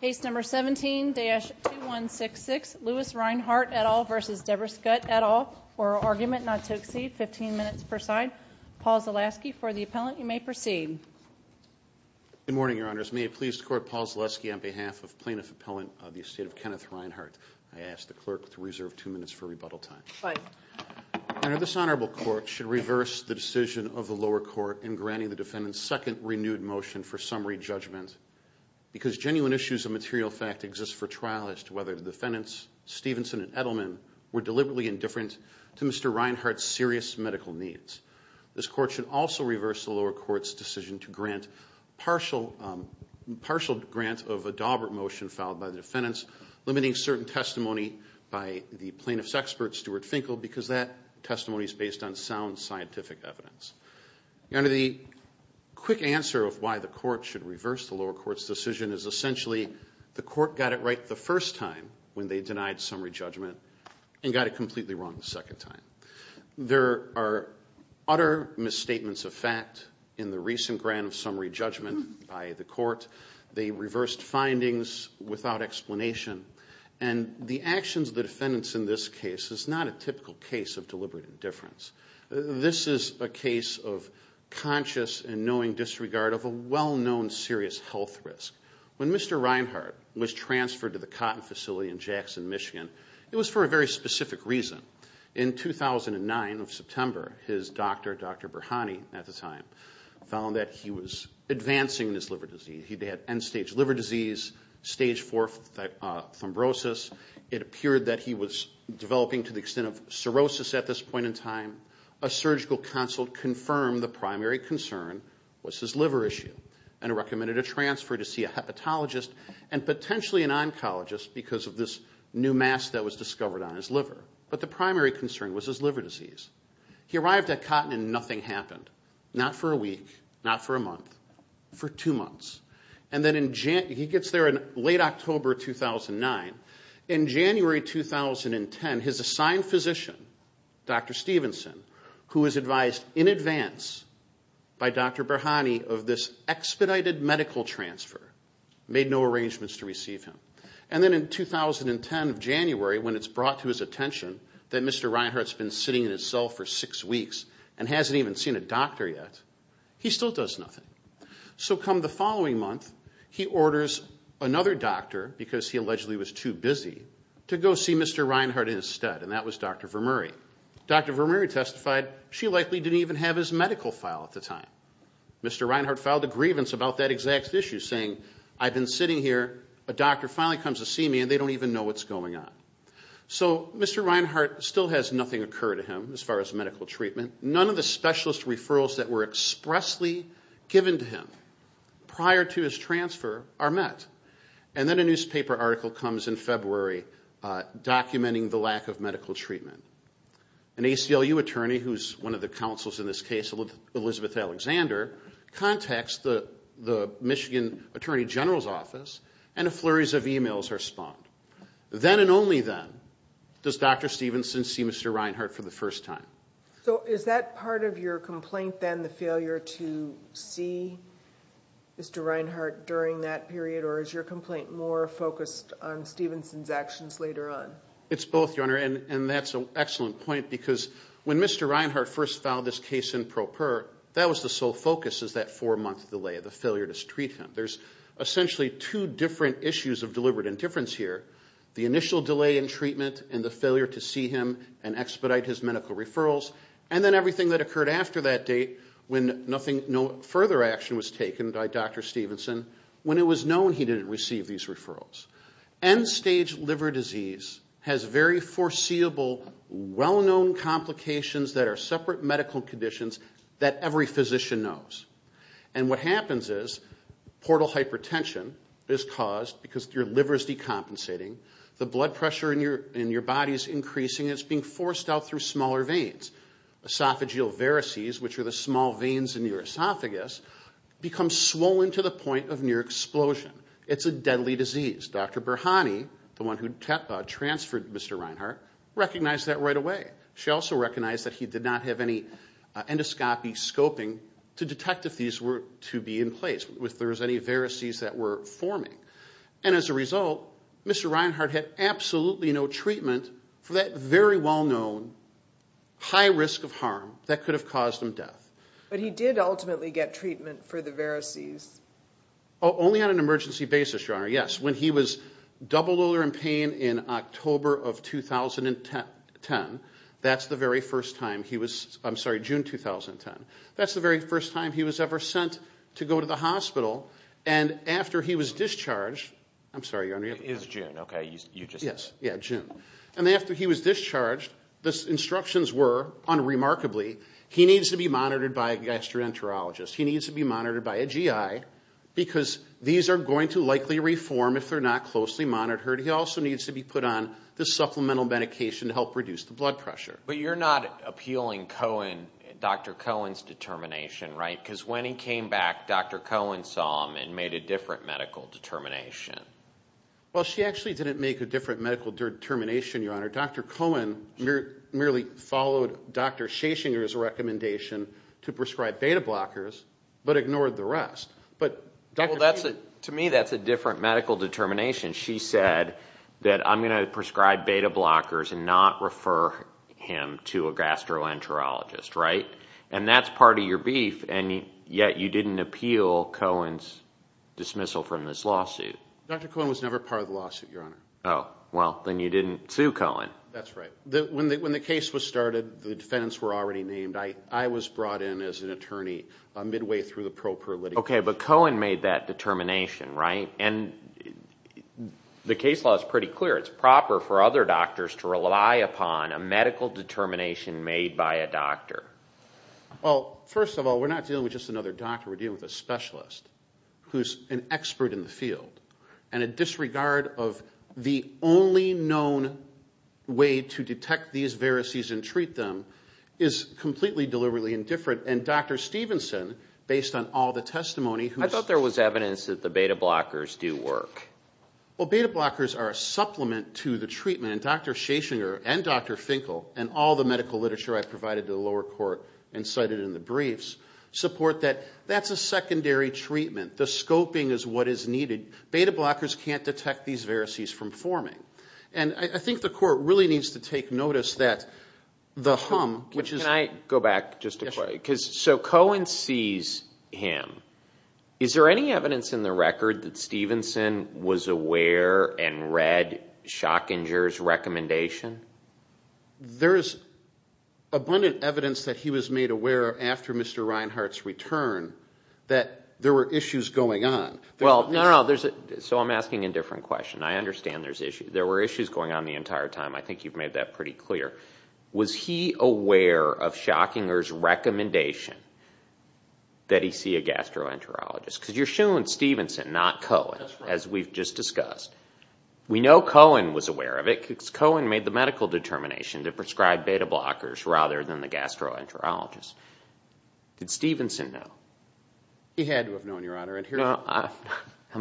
Case number 17-2166, Lewis Rhinehart et al. v. Debra Scutt et al. Oral argument not to exceed 15 minutes per side. Paul Zaleski for the appellant. You may proceed. Good morning, Your Honors. May it please the Court, Paul Zaleski on behalf of Plaintiff Appellant of the Estate of Kenneth Rhinehart. I ask the Clerk to reserve two minutes for rebuttal time. Your Honor, this Honorable Court should reverse the decision of the lower court in granting the defendant's second renewed motion for summary judgment because genuine issues of material fact exist for trial as to whether the defendants, Stevenson and Edelman, were deliberately indifferent to Mr. Rhinehart's serious medical needs. This Court should also reverse the lower court's decision to grant partial grant of a Daubert motion filed by the defendants, limiting certain testimony by the plaintiff's expert, Stuart Finkel, because that testimony is based on sound scientific evidence. Your Honor, the quick answer of why the Court should reverse the lower court's decision is essentially the Court got it right the first time when they denied summary judgment and got it completely wrong the second time. There are utter misstatements of fact in the recent grant of summary judgment by the Court. They reversed findings without explanation. And the actions of the defendants in this case is not a typical case of deliberate indifference. This is a case of conscious and knowing disregard of a well-known serious health risk. When Mr. Rhinehart was transferred to the Cotton Facility in Jackson, Michigan, it was for a very specific reason. In 2009 of September, his doctor, Dr. Burhani at the time, found that he was advancing this liver disease. He had end-stage liver disease, stage 4 fibrosis. It appeared that he was developing to the extent of cirrhosis at this point in time. A surgical consult confirmed the primary concern was his liver issue and recommended a transfer to see a hepatologist and potentially an oncologist because of this new mass that was discovered on his liver. But the primary concern was his liver disease. He arrived at Cotton and nothing happened, not for a week, not for a month, for two months. And then he gets there in late October 2009. In January 2010, his assigned physician, Dr. Stevenson, who was advised in advance by Dr. Burhani of this expedited medical transfer, made no arrangements to receive him. And then in 2010 of January, when it's brought to his attention that Mr. Rhinehart's been sitting in his cell for six weeks and hasn't even seen a doctor yet, he still does nothing. So come the following month, he orders another doctor, because he allegedly was too busy, to go see Mr. Rhinehart instead, and that was Dr. Vermuri. Dr. Vermuri testified she likely didn't even have his medical file at the time. Mr. Rhinehart filed a grievance about that exact issue, saying, I've been sitting here, a doctor finally comes to see me, and they don't even know what's going on. So Mr. Rhinehart still has nothing occur to him as far as medical treatment. None of the specialist referrals that were expressly given to him prior to his transfer are met. And then a newspaper article comes in February documenting the lack of medical treatment. An ACLU attorney, who's one of the counsels in this case, Elizabeth Alexander, contacts the Michigan Attorney General's office, and flurries of e-mails are spawned. Then and only then does Dr. Stevenson see Mr. Rhinehart for the first time. So is that part of your complaint then, the failure to see Mr. Rhinehart during that period, or is your complaint more focused on Stevenson's actions later on? It's both, Your Honor, and that's an excellent point. Because when Mr. Rhinehart first filed this case in pro per, that was the sole focus is that four-month delay, the failure to treat him. There's essentially two different issues of deliberate indifference here, the initial delay in treatment and the failure to see him and expedite his medical referrals, and then everything that occurred after that date when no further action was taken by Dr. Stevenson, when it was known he didn't receive these referrals. End-stage liver disease has very foreseeable well-known complications that are separate medical conditions that every physician knows. And what happens is portal hypertension is caused because your liver is decompensating, the blood pressure in your body is increasing, and it's being forced out through smaller veins. Esophageal varices, which are the small veins in your esophagus, become swollen to the point of near explosion. It's a deadly disease. Dr. Burhani, the one who transferred Mr. Rhinehart, recognized that right away. She also recognized that he did not have any endoscopy scoping to detect if these were to be in place, if there was any varices that were forming. And as a result, Mr. Rhinehart had absolutely no treatment for that very well-known high risk of harm that could have caused him death. But he did ultimately get treatment for the varices? Only on an emergency basis, Your Honor, yes. When he was double odor and pain in October of 2010, that's the very first time he was, I'm sorry, June 2010, that's the very first time he was ever sent to go to the hospital. And after he was discharged, I'm sorry, Your Honor. It was June, okay, you just said. Yeah, June. And after he was discharged, the instructions were, unremarkably, he needs to be monitored by a gastroenterologist, he needs to be monitored by a GI, because these are going to likely reform if they're not closely monitored. He also needs to be put on the supplemental medication to help reduce the blood pressure. But you're not appealing Cohen, Dr. Cohen's determination, right? Because when he came back, Dr. Cohen saw him and made a different medical determination. Well, she actually didn't make a different medical determination, Your Honor. Dr. Cohen merely followed Dr. Schesinger's recommendation to prescribe beta blockers but ignored the rest. To me, that's a different medical determination. She said that I'm going to prescribe beta blockers and not refer him to a gastroenterologist, right? And that's part of your beef, and yet you didn't appeal Cohen's dismissal from this lawsuit. Dr. Cohen was never part of the lawsuit, Your Honor. Oh, well, then you didn't sue Cohen. That's right. When the case was started, the defendants were already named. I was brought in as an attorney midway through the pro per litigation. Okay, but Cohen made that determination, right? And the case law is pretty clear. It's proper for other doctors to rely upon a medical determination made by a doctor. Well, first of all, we're not dealing with just another doctor. We're dealing with a specialist who's an expert in the field. And a disregard of the only known way to detect these varices and treat them is completely deliberately indifferent. And Dr. Stevenson, based on all the testimony who's- I thought there was evidence that the beta blockers do work. Well, beta blockers are a supplement to the treatment. And Dr. Schesinger and Dr. Finkel and all the medical literature I provided to the lower court and cited in the briefs support that that's a secondary treatment. The scoping is what is needed. Beta blockers can't detect these varices from forming. And I think the court really needs to take notice that the hum, which is- Can I go back just a quick? So Cohen sees him. Is there any evidence in the record that Stevenson was aware and read Schesinger's recommendation? There's abundant evidence that he was made aware after Mr. Reinhart's return that there were issues going on. Well, no, no, no. So I'm asking a different question. I understand there's issues. There were issues going on the entire time. I think you've made that pretty clear. Was he aware of Schesinger's recommendation that he see a gastroenterologist? Because you're showing Stevenson, not Cohen, as we've just discussed. We know Cohen was aware of it because Cohen made the medical determination to prescribe beta blockers rather than the gastroenterologist. Did Stevenson know? He had to have known, Your Honor. I'm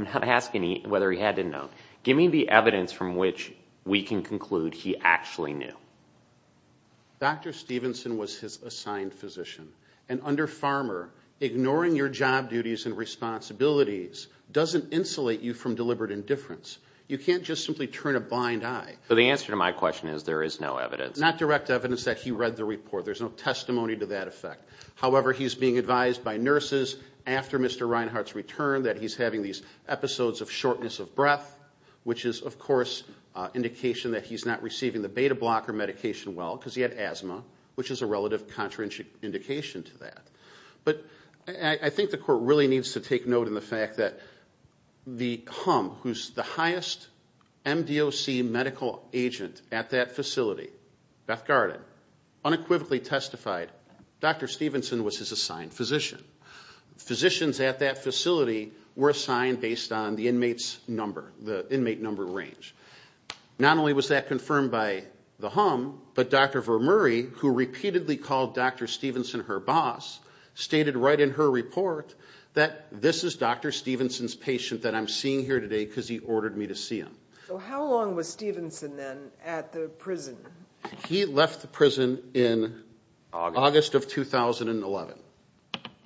not asking whether he had to know. Give me the evidence from which we can conclude he actually knew. Dr. Stevenson was his assigned physician. And under Farmer, ignoring your job duties and responsibilities doesn't insulate you from deliberate indifference. You can't just simply turn a blind eye. So the answer to my question is there is no evidence. Not direct evidence that he read the report. There's no testimony to that effect. However, he's being advised by nurses after Mr. Reinhart's return that he's having these episodes of shortness of breath, which is, of course, indication that he's not receiving the beta blocker medication well because he had asthma, which is a relative contraindication to that. But I think the court really needs to take note in the fact that the HUM, who's the highest MDOC medical agent at that facility, Beth Garden, unequivocally testified Dr. Stevenson was his assigned physician. Physicians at that facility were assigned based on the inmate's number, the inmate number range. Not only was that confirmed by the HUM, but Dr. Vermuri, who repeatedly called Dr. Stevenson her boss, stated right in her report that this is Dr. Stevenson's patient that I'm seeing here today because he ordered me to see him. So how long was Stevenson then at the prison? He left the prison in August of 2011.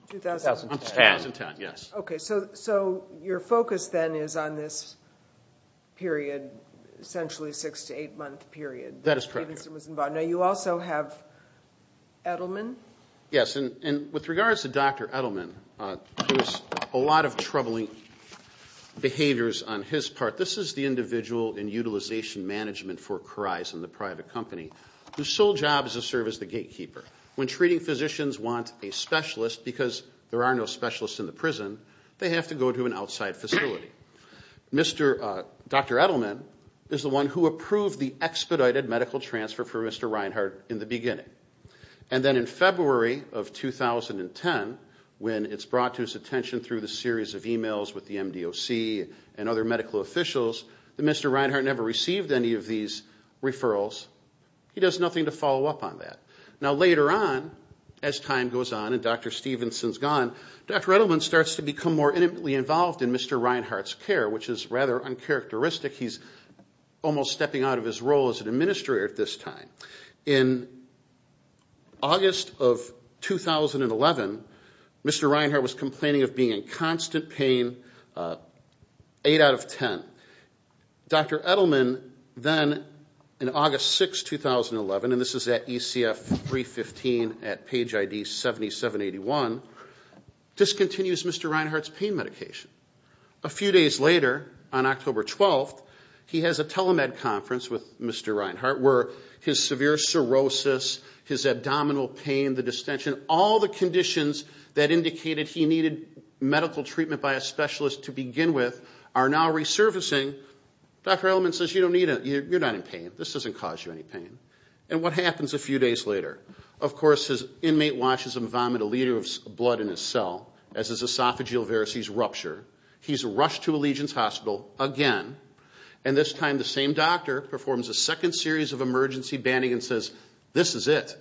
2010. 2010, yes. Okay, so your focus then is on this period, essentially six- to eight-month period that Stevenson was involved. That is correct. Now, you also have Edelman. Yes, and with regards to Dr. Edelman, there was a lot of troubling behaviors on his part. This is the individual in Utilization Management for Carize and the private company whose sole job is to serve as the gatekeeper. When treating physicians want a specialist, because there are no specialists in the prison, they have to go to an outside facility. Dr. Edelman is the one who approved the expedited medical transfer for Mr. Reinhart in the beginning. And then in February of 2010, when it's brought to his attention through the series of e-mails with the MDOC and other medical officials that Mr. Reinhart never received any of these referrals, he does nothing to follow up on that. Now, later on, as time goes on and Dr. Stevenson's gone, Dr. Edelman starts to become more intimately involved in Mr. Reinhart's care, which is rather uncharacteristic. He's almost stepping out of his role as an administrator at this time. In August of 2011, Mr. Reinhart was complaining of being in constant pain, eight out of ten. Dr. Edelman then, in August 6, 2011, and this is at ECF 315 at page ID 7781, discontinues Mr. Reinhart's pain medication. A few days later, on October 12th, he has a telemed conference with Mr. Reinhart where his severe cirrhosis, his abdominal pain, the distension, all the conditions that indicated he needed medical treatment by a specialist to begin with are now resurfacing. Dr. Edelman says, you're not in pain. This doesn't cause you any pain. And what happens a few days later? Of course, his inmate watches him vomit a liter of blood in his cell, as his esophageal varices rupture. He's rushed to Allegiance Hospital again, and this time the same doctor performs a second series of emergency banding and says, this is it.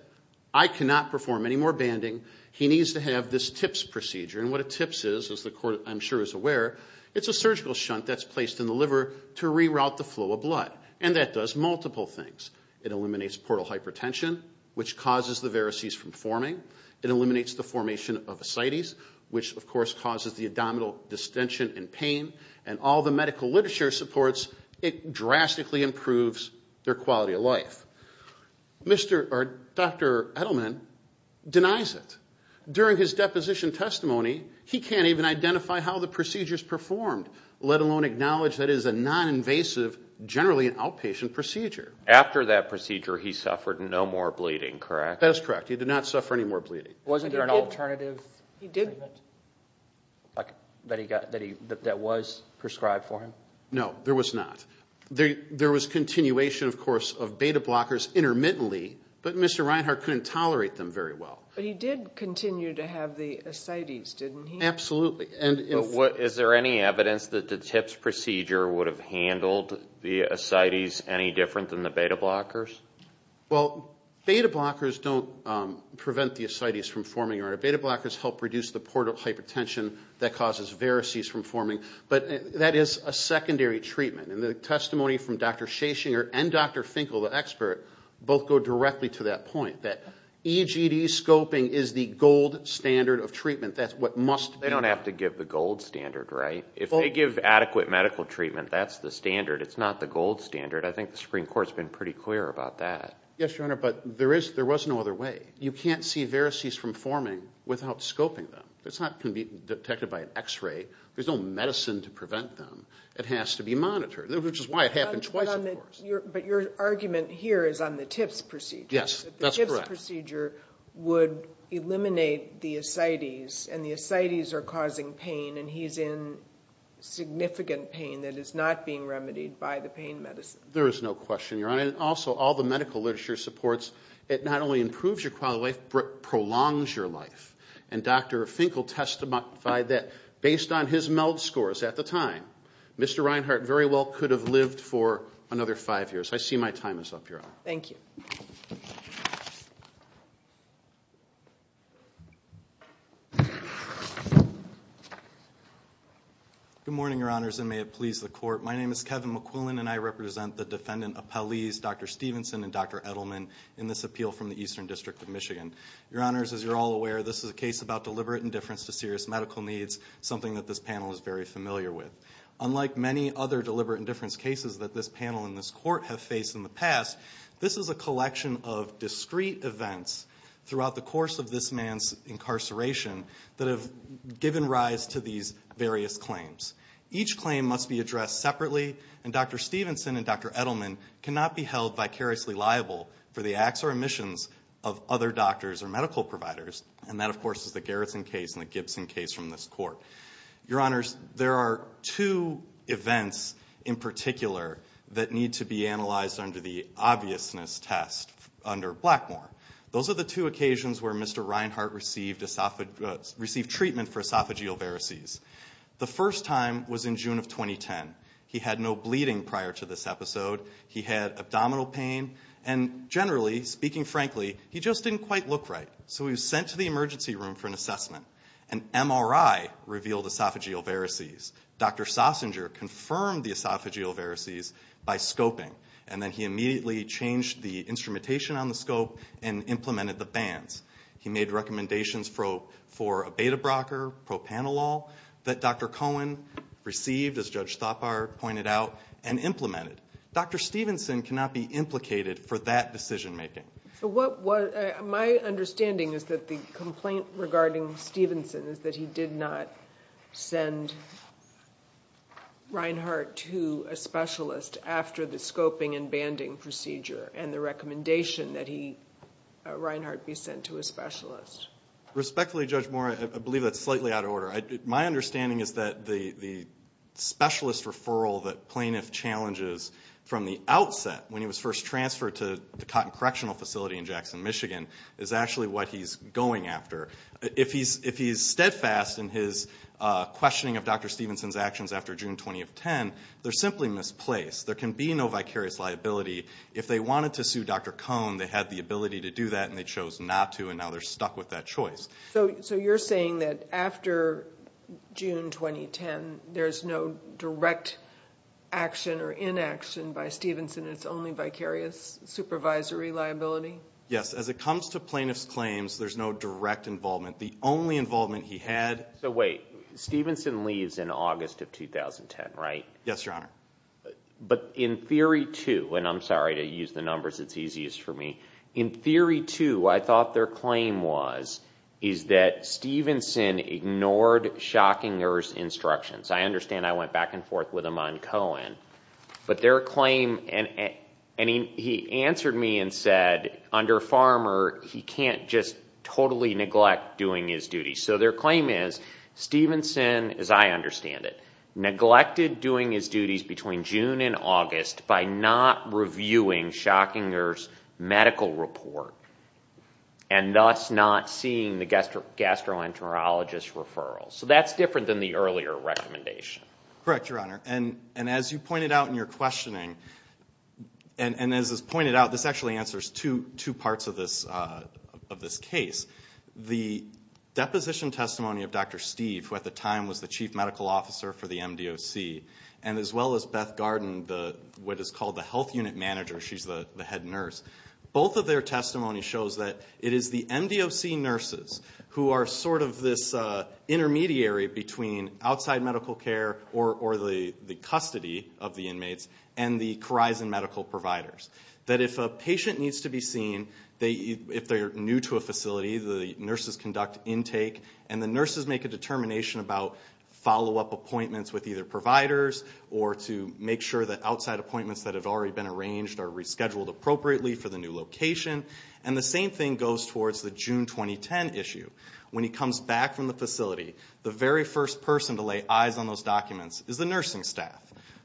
I cannot perform any more banding. He needs to have this TIPS procedure, and what a TIPS is, as the court, I'm sure, is aware, it's a surgical shunt that's placed in the liver to reroute the flow of blood, and that does multiple things. It eliminates portal hypertension, which causes the varices from forming. It eliminates the formation of ascites, which, of course, causes the abdominal distension and pain, and all the medical literature supports it drastically improves their quality of life. Dr. Edelman denies it. During his deposition testimony, he can't even identify how the procedure is performed, let alone acknowledge that it is a noninvasive, generally an outpatient procedure. After that procedure, he suffered no more bleeding, correct? That is correct. He did not suffer any more bleeding. Wasn't there an alternative that was prescribed for him? No, there was not. There was continuation, of course, of beta blockers intermittently, but Mr. Reinhart couldn't tolerate them very well. But he did continue to have the ascites, didn't he? Absolutely. Is there any evidence that the TIPS procedure would have handled the ascites any different than the beta blockers? Well, beta blockers don't prevent the ascites from forming, or beta blockers help reduce the portal hypertension that causes varices from forming, but that is a secondary treatment. And the testimony from Dr. Schasinger and Dr. Finkel, the expert, both go directly to that point, that EGD scoping is the gold standard of treatment. That's what must be. They don't have to give the gold standard, right? If they give adequate medical treatment, that's the standard. It's not the gold standard. I think the Supreme Court has been pretty clear about that. Yes, Your Honor, but there was no other way. You can't see varices from forming without scoping them. It's not going to be detected by an X-ray. There's no medicine to prevent them. It has to be monitored, which is why it happened twice, of course. But your argument here is on the TIPS procedure. Yes, that's correct. The TIPS procedure would eliminate the ascites, and the ascites are causing pain, and he's in significant pain that is not being remedied by the pain medicine. There is no question, Your Honor. And also, all the medical literature supports it not only improves your quality of life, but prolongs your life. And Dr. Finkel testified that based on his MELD scores at the time, Mr. Reinhart very well could have lived for another five years. I see my time is up, Your Honor. Thank you. Good morning, Your Honors, and may it please the Court. My name is Kevin McQuillan, and I represent the defendant appellees, Dr. Stevenson and Dr. Edelman, in this appeal from the Eastern District of Michigan. Your Honors, as you're all aware, this is a case about deliberate indifference to serious medical needs, something that this panel is very familiar with. Unlike many other deliberate indifference cases that this panel and this Court have faced in the past, this is a collection of discrete events throughout the course of this man's incarceration that have given rise to these various claims. Each claim must be addressed separately, and Dr. Stevenson and Dr. Edelman cannot be held vicariously liable for the acts or omissions of other doctors or medical providers, and that, of course, is the Garrison case and the Gibson case from this Court. Your Honors, there are two events in particular that need to be analyzed under the obviousness test under Blackmore. Those are the two occasions where Mr. Reinhart received treatment for esophageal varices. The first time was in June of 2010. He had no bleeding prior to this episode. He had abdominal pain, and generally, speaking frankly, he just didn't quite look right, so he was sent to the emergency room for an assessment. An MRI revealed esophageal varices. Dr. Sossinger confirmed the esophageal varices by scoping, and then he immediately changed the instrumentation on the scope and implemented the bands. He made recommendations for a beta-brocker, propanolol, that Dr. Cohen received, as Judge Thapar pointed out, and implemented. Dr. Stevenson cannot be implicated for that decision-making. My understanding is that the complaint regarding Stevenson is that he did not send Reinhart to a specialist after the scoping and banding procedure and the recommendation that Reinhart be sent to a specialist. Respectfully, Judge Moore, I believe that's slightly out of order. My understanding is that the specialist referral that plaintiff challenges from the outset, when he was first transferred to the Cotton Correctional Facility in Jackson, Michigan, is actually what he's going after. If he's steadfast in his questioning of Dr. Stevenson's actions after June 2010, they're simply misplaced. There can be no vicarious liability. If they wanted to sue Dr. Cohen, they had the ability to do that, and they chose not to, and now they're stuck with that choice. So you're saying that after June 2010, there's no direct action or inaction by Stevenson, and it's only vicarious supervisory liability? Yes. As it comes to plaintiff's claims, there's no direct involvement. The only involvement he had— So wait. Stevenson leaves in August of 2010, right? Yes, Your Honor. But in theory, too—and I'm sorry to use the numbers. It's easiest for me. In theory, too, I thought their claim was that Stevenson ignored Schockinger's instructions. I understand I went back and forth with him on Cohen. But their claim—and he answered me and said, under Farmer, he can't just totally neglect doing his duties. So their claim is, Stevenson, as I understand it, neglected doing his duties between June and August by not reviewing Schockinger's medical report and thus not seeing the gastroenterologist's referral. So that's different than the earlier recommendation. Correct, Your Honor. And as you pointed out in your questioning, and as is pointed out, this actually answers two parts of this case. The deposition testimony of Dr. Steve, who at the time was the chief medical officer for the MDOC, and as well as Beth Garden, what is called the health unit manager—she's the head nurse— both of their testimony shows that it is the MDOC nurses who are sort of this intermediary between outside medical care or the custody of the inmates and the Corizon medical providers. That if a patient needs to be seen, if they're new to a facility, the nurses conduct intake, and the nurses make a determination about follow-up appointments with either providers or to make sure that outside appointments that have already been arranged are rescheduled appropriately for the new location. And the same thing goes towards the June 2010 issue. When he comes back from the facility, the very first person to lay eyes on those documents is the nursing staff.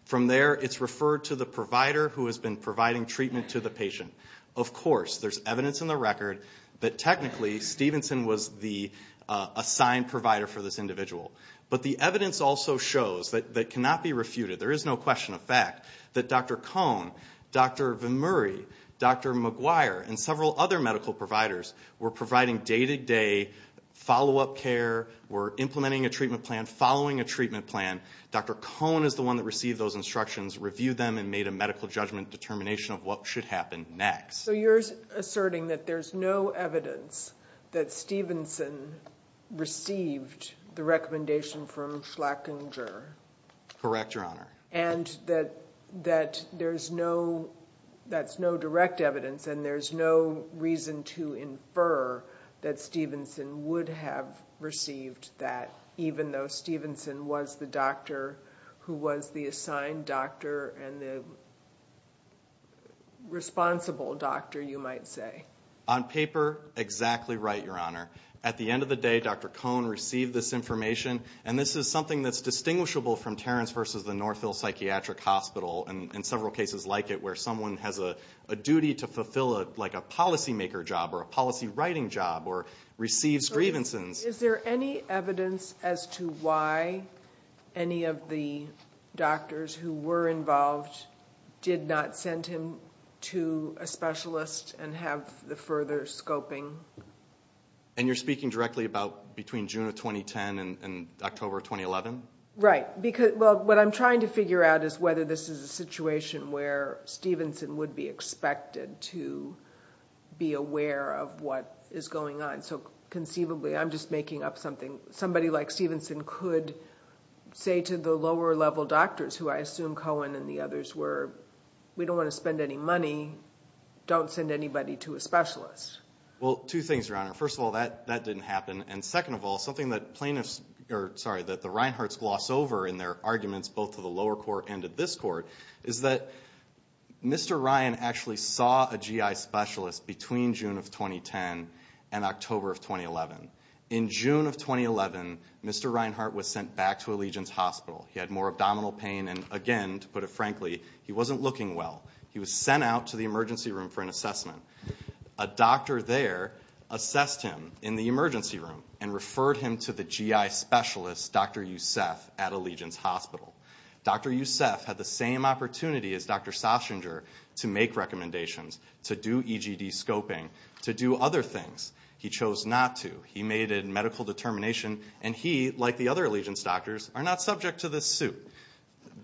From there, it's referred to the provider who has been providing treatment to the patient. Of course, there's evidence in the record that technically Stevenson was the assigned provider for this individual. But the evidence also shows that that cannot be refuted. There is no question of fact that Dr. Cohn, Dr. VanMurray, Dr. McGuire, and several other medical providers were providing day-to-day follow-up care, were implementing a treatment plan, following a treatment plan. Dr. Cohn is the one that received those instructions, reviewed them, and made a medical judgment determination of what should happen next. So you're asserting that there's no evidence that Stevenson received the recommendation from Schlackinger? Correct, Your Honor. And that there's no direct evidence, and there's no reason to infer that Stevenson would have received that, even though Stevenson was the doctor who was the assigned doctor and the responsible doctor, you might say? On paper, exactly right, Your Honor. At the end of the day, Dr. Cohn received this information, and this is something that's distinguishable from Terrence v. The Northville Psychiatric Hospital, and several cases like it where someone has a duty to fulfill a policymaker job or a policy writing job or receives grievances. Is there any evidence as to why any of the doctors who were involved did not send him to a specialist and have the further scoping? And you're speaking directly about between June of 2010 and October of 2011? Right. Well, what I'm trying to figure out is whether this is a situation where Stevenson would be expected to be aware of what is going on. So conceivably, I'm just making up something. Somebody like Stevenson could say to the lower-level doctors, who I assume Cohn and the others were, we don't want to spend any money, don't send anybody to a specialist. Well, two things, Your Honor. First of all, that didn't happen. And second of all, something that plaintiffs or, sorry, that the Reinharts gloss over in their arguments both to the lower court and to this court is that Mr. Ryan actually saw a GI specialist between June of 2010 and October of 2011. In June of 2011, Mr. Reinhart was sent back to Allegiance Hospital. He had more abdominal pain, and again, to put it frankly, he wasn't looking well. He was sent out to the emergency room for an assessment. A doctor there assessed him in the emergency room and referred him to the GI specialist, Dr. Youssef, at Allegiance Hospital. Dr. Youssef had the same opportunity as Dr. Sausinger to make recommendations, to do EGD scoping, to do other things. He chose not to. He made a medical determination, and he, like the other Allegiance doctors, are not subject to this suit.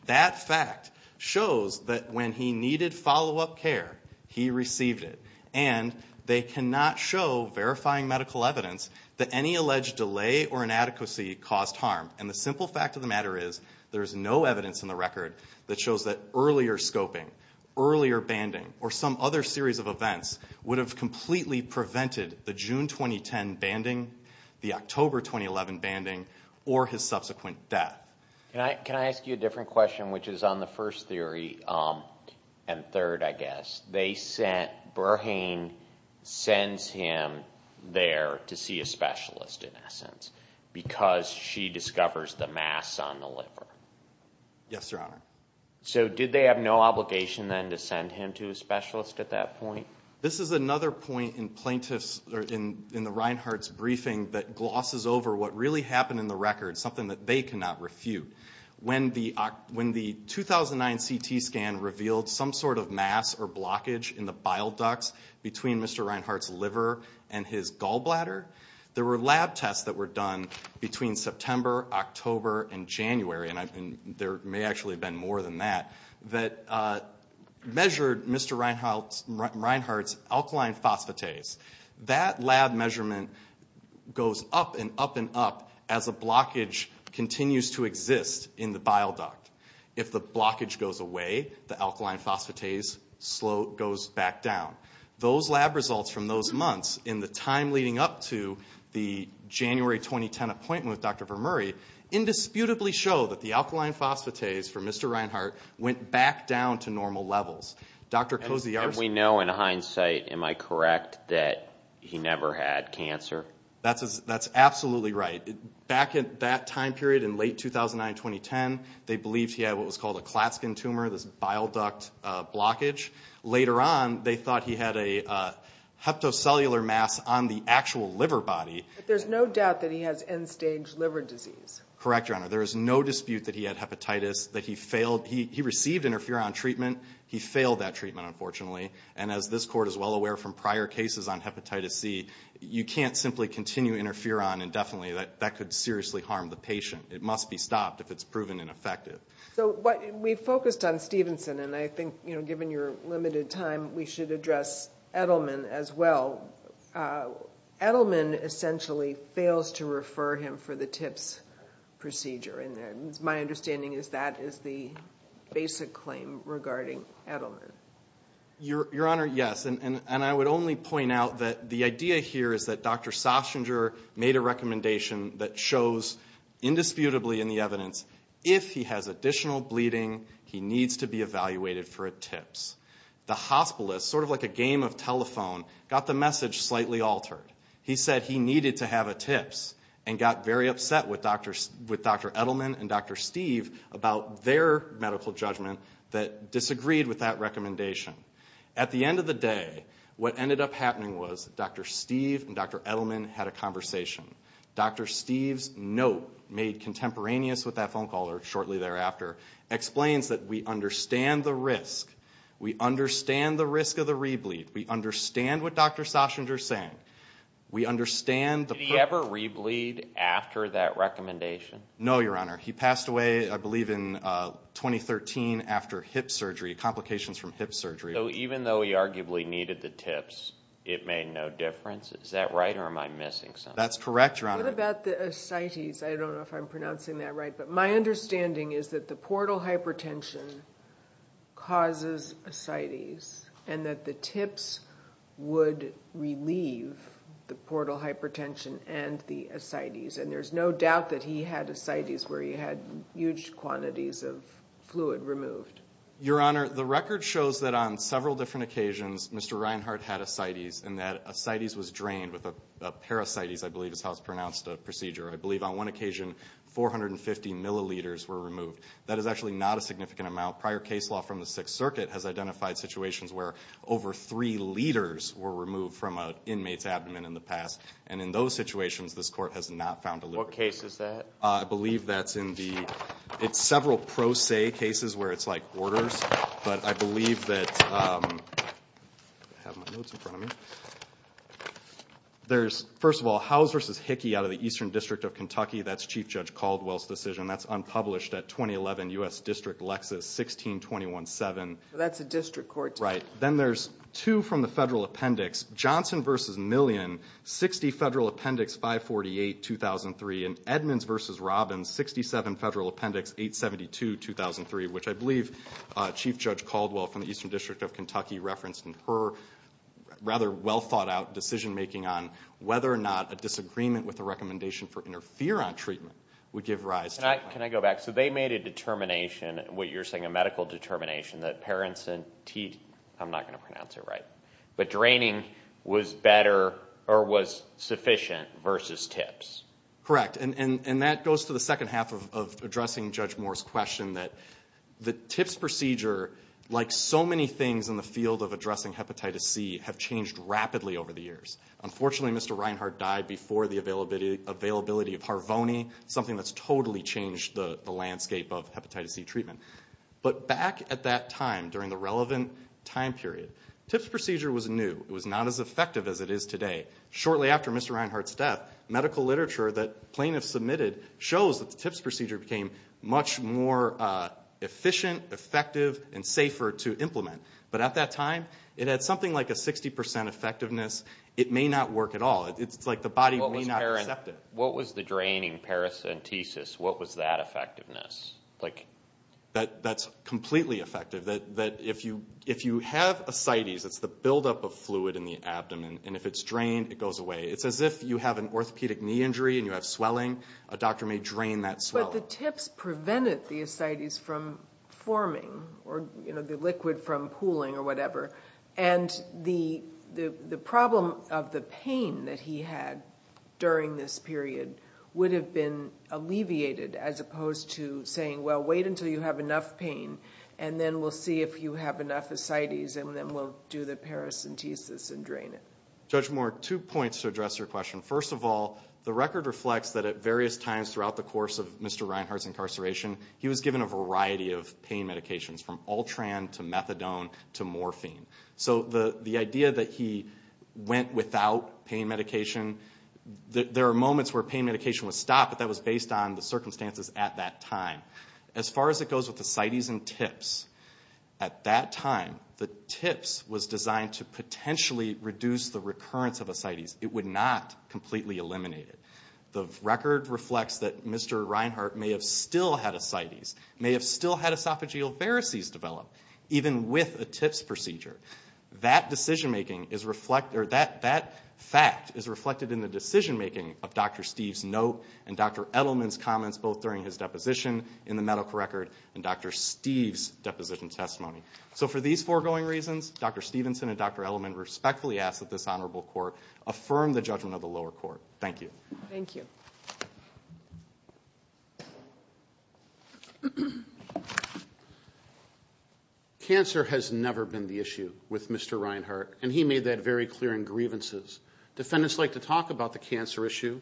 That fact shows that when he needed follow-up care, he received it. And they cannot show, verifying medical evidence, that any alleged delay or inadequacy caused harm. And the simple fact of the matter is there is no evidence in the record that shows that earlier scoping, earlier banding, or some other series of events would have completely prevented the June 2010 banding, the October 2011 banding, or his subsequent death. Can I ask you a different question, which is on the first theory and third, I guess? They sent, Burhane sends him there to see a specialist, in essence, because she discovers the mass on the liver. Yes, Your Honor. So did they have no obligation, then, to send him to a specialist at that point? This is another point in plaintiff's, or in the Reinhardt's briefing, that glosses over what really happened in the record, something that they cannot refute. When the 2009 CT scan revealed some sort of mass or blockage in the bile ducts between Mr. Reinhardt's liver and his gallbladder, there were lab tests that were done between September, October, and January, and there may actually have been more than that, that measured Mr. Reinhardt's alkaline phosphatase. That lab measurement goes up and up and up as a blockage continues to exist in the bile duct. If the blockage goes away, the alkaline phosphatase goes back down. Those lab results from those months in the time leading up to the January 2010 appointment with Dr. Vermuri indisputably show that the alkaline phosphatase for Mr. Reinhardt went back down to normal levels. And we know in hindsight, am I correct, that he never had cancer? That's absolutely right. Back at that time period in late 2009-2010, they believed he had what was called a klatskin tumor, this bile duct blockage. Later on, they thought he had a heptocellular mass on the actual liver body. But there's no doubt that he has end-stage liver disease. Correct, Your Honor. There is no dispute that he had hepatitis, that he received interferon treatment. He failed that treatment, unfortunately. And as this Court is well aware from prior cases on hepatitis C, you can't simply continue interferon indefinitely. That could seriously harm the patient. It must be stopped if it's proven ineffective. We focused on Stevenson, and I think, given your limited time, we should address Edelman as well. Edelman essentially fails to refer him for the TIPS procedure. My understanding is that is the basic claim regarding Edelman. Your Honor, yes. And I would only point out that the idea here is that Dr. Sostinger made a recommendation that shows indisputably in the evidence, if he has additional bleeding, he needs to be evaluated for a TIPS. The hospitalist, sort of like a game of telephone, got the message slightly altered. He said he needed to have a TIPS and got very upset with Dr. Edelman and Dr. Steve about their medical judgment that disagreed with that recommendation. At the end of the day, what ended up happening was Dr. Steve and Dr. Edelman had a conversation. Dr. Steve's note, made contemporaneous with that phone call or shortly thereafter, explains that we understand the risk. We understand the risk of the re-bleed. We understand what Dr. Sostinger is saying. Did he ever re-bleed after that recommendation? No, Your Honor. He passed away, I believe, in 2013 after hip surgery, complications from hip surgery. So even though he arguably needed the TIPS, it made no difference? Is that right or am I missing something? That's correct, Your Honor. What about the ascites? I don't know if I'm pronouncing that right. But my understanding is that the portal hypertension causes ascites and that the TIPS would relieve the portal hypertension and the ascites. And there's no doubt that he had ascites where he had huge quantities of fluid removed. Your Honor, the record shows that on several different occasions, Mr. Reinhart had ascites and that ascites was drained with a parasitis, I believe is how it's pronounced, a procedure. I believe on one occasion 450 milliliters were removed. That is actually not a significant amount. Prior case law from the Sixth Circuit has identified situations where over three liters were removed from an inmate's abdomen in the past. And in those situations, this Court has not found a limit. What case is that? I believe that's in the several pro se cases where it's like orders. But I believe that there's, first of all, House v. Hickey out of the Eastern District of Kentucky. That's Chief Judge Caldwell's decision. That's unpublished at 2011 U.S. District Lexis, 1621-7. That's a district court. Right. Then there's two from the Federal Appendix. Johnson v. Million, 60 Federal Appendix 548, 2003. And Edmonds v. Robbins, 67 Federal Appendix 872, 2003, which I believe Chief Judge Caldwell from the Eastern District of Kentucky referenced in her rather well-thought-out decision-making on whether or not a disagreement with the recommendation for interferon treatment would give rise to a problem. Can I go back? So they made a determination, what you're saying, a medical determination, that paracetamol, I'm not going to pronounce it right, but draining was better or was sufficient versus tips. Correct. And that goes to the second half of addressing Judge Moore's question, that the tips procedure, like so many things in the field of addressing hepatitis C, have changed rapidly over the years. Unfortunately, Mr. Reinhart died before the availability of Harvoni, something that's totally changed the landscape of hepatitis C treatment. But back at that time, during the relevant time period, tips procedure was new. It was not as effective as it is today. Shortly after Mr. Reinhart's death, medical literature that plaintiffs submitted shows that the tips procedure became much more efficient, effective, and safer to implement. But at that time, it had something like a 60% effectiveness. It may not work at all. It's like the body may not accept it. What was the draining paracentesis? What was that effectiveness? That's completely effective. If you have ascites, it's the buildup of fluid in the abdomen, and if it's drained, it goes away. It's as if you have an orthopedic knee injury and you have swelling. A doctor may drain that swelling. But the tips prevented the ascites from forming or the liquid from pooling or whatever, and the problem of the pain that he had during this period would have been alleviated as opposed to saying, well, wait until you have enough pain, and then we'll see if you have enough ascites, and then we'll do the paracentesis and drain it. Judge Moore, two points to address your question. First of all, the record reflects that at various times throughout the course of Mr. Reinhardt's incarceration, he was given a variety of pain medications, from Ultran to methadone to morphine. So the idea that he went without pain medication, there are moments where pain medication was stopped, but that was based on the circumstances at that time. As far as it goes with ascites and tips, at that time, the tips was designed to potentially reduce the recurrence of ascites. It would not completely eliminate it. The record reflects that Mr. Reinhardt may have still had ascites, may have still had esophageal varices develop, even with a tips procedure. That fact is reflected in the decision-making of Dr. Steve's note and Dr. Edelman's comments both during his deposition in the medical record and Dr. Steve's deposition testimony. So for these foregoing reasons, Dr. Stevenson and Dr. Edelman respectfully ask that this honorable court affirm the judgment of the lower court. Thank you. Thank you. Cancer has never been the issue with Mr. Reinhardt, and he made that very clear in grievances. Defendants like to talk about the cancer issue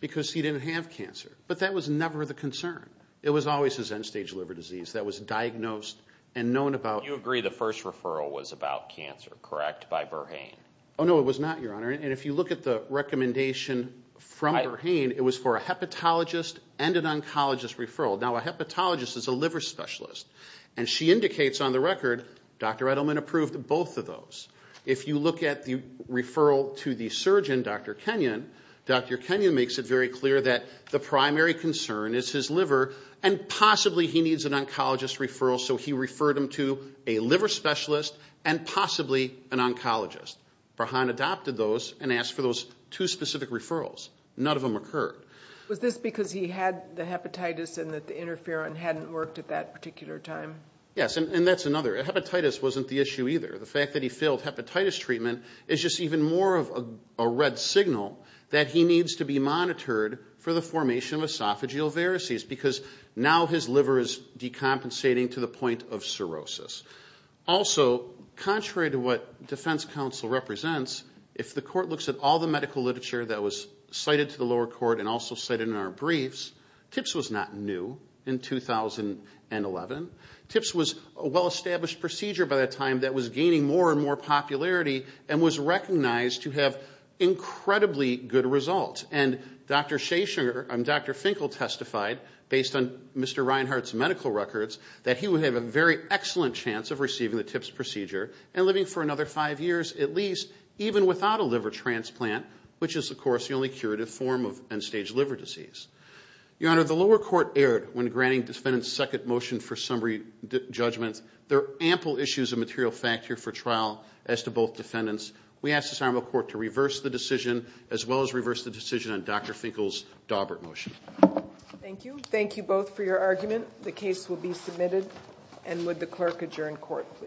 because he didn't have cancer, but that was never the concern. It was always his end-stage liver disease that was diagnosed and known about. You agree the first referral was about cancer, correct, by Berhain? Oh, no, it was not, Your Honor. And if you look at the recommendation from Berhain, it was for a hepatologist and an oncologist referral. Now, a hepatologist is a liver specialist, and she indicates on the record, Dr. Edelman approved both of those. If you look at the referral to the surgeon, Dr. Kenyon, Dr. Kenyon makes it very clear that the primary concern is his liver and possibly he needs an oncologist referral, so he referred him to a liver specialist and possibly an oncologist. Berhain adopted those and asked for those two specific referrals. None of them occurred. Was this because he had the hepatitis and that the interferon hadn't worked at that particular time? Yes, and that's another. Hepatitis wasn't the issue either. The fact that he failed hepatitis treatment is just even more of a red signal that he needs to be monitored for the formation of esophageal varices because now his liver is decompensating to the point of cirrhosis. Also, contrary to what defense counsel represents, if the court looks at all the medical literature that was cited to the lower court and also cited in our briefs, TIPS was not new in 2011. TIPS was a well-established procedure by that time that was gaining more and more popularity and was recognized to have incredibly good results. And Dr. Finkle testified, based on Mr. Reinhart's medical records, that he would have a very excellent chance of receiving the TIPS procedure and living for another five years at least, even without a liver transplant, which is, of course, the only curative form of end-stage liver disease. Your Honor, the lower court erred when granting defendants second motion for summary judgments. There are ample issues of material fact here for trial as to both defendants. We ask this honorable court to reverse the decision as well as reverse the decision on Dr. Finkle's Daubert motion. Thank you. Thank you both for your argument. The case will be submitted. And would the clerk adjourn court, please?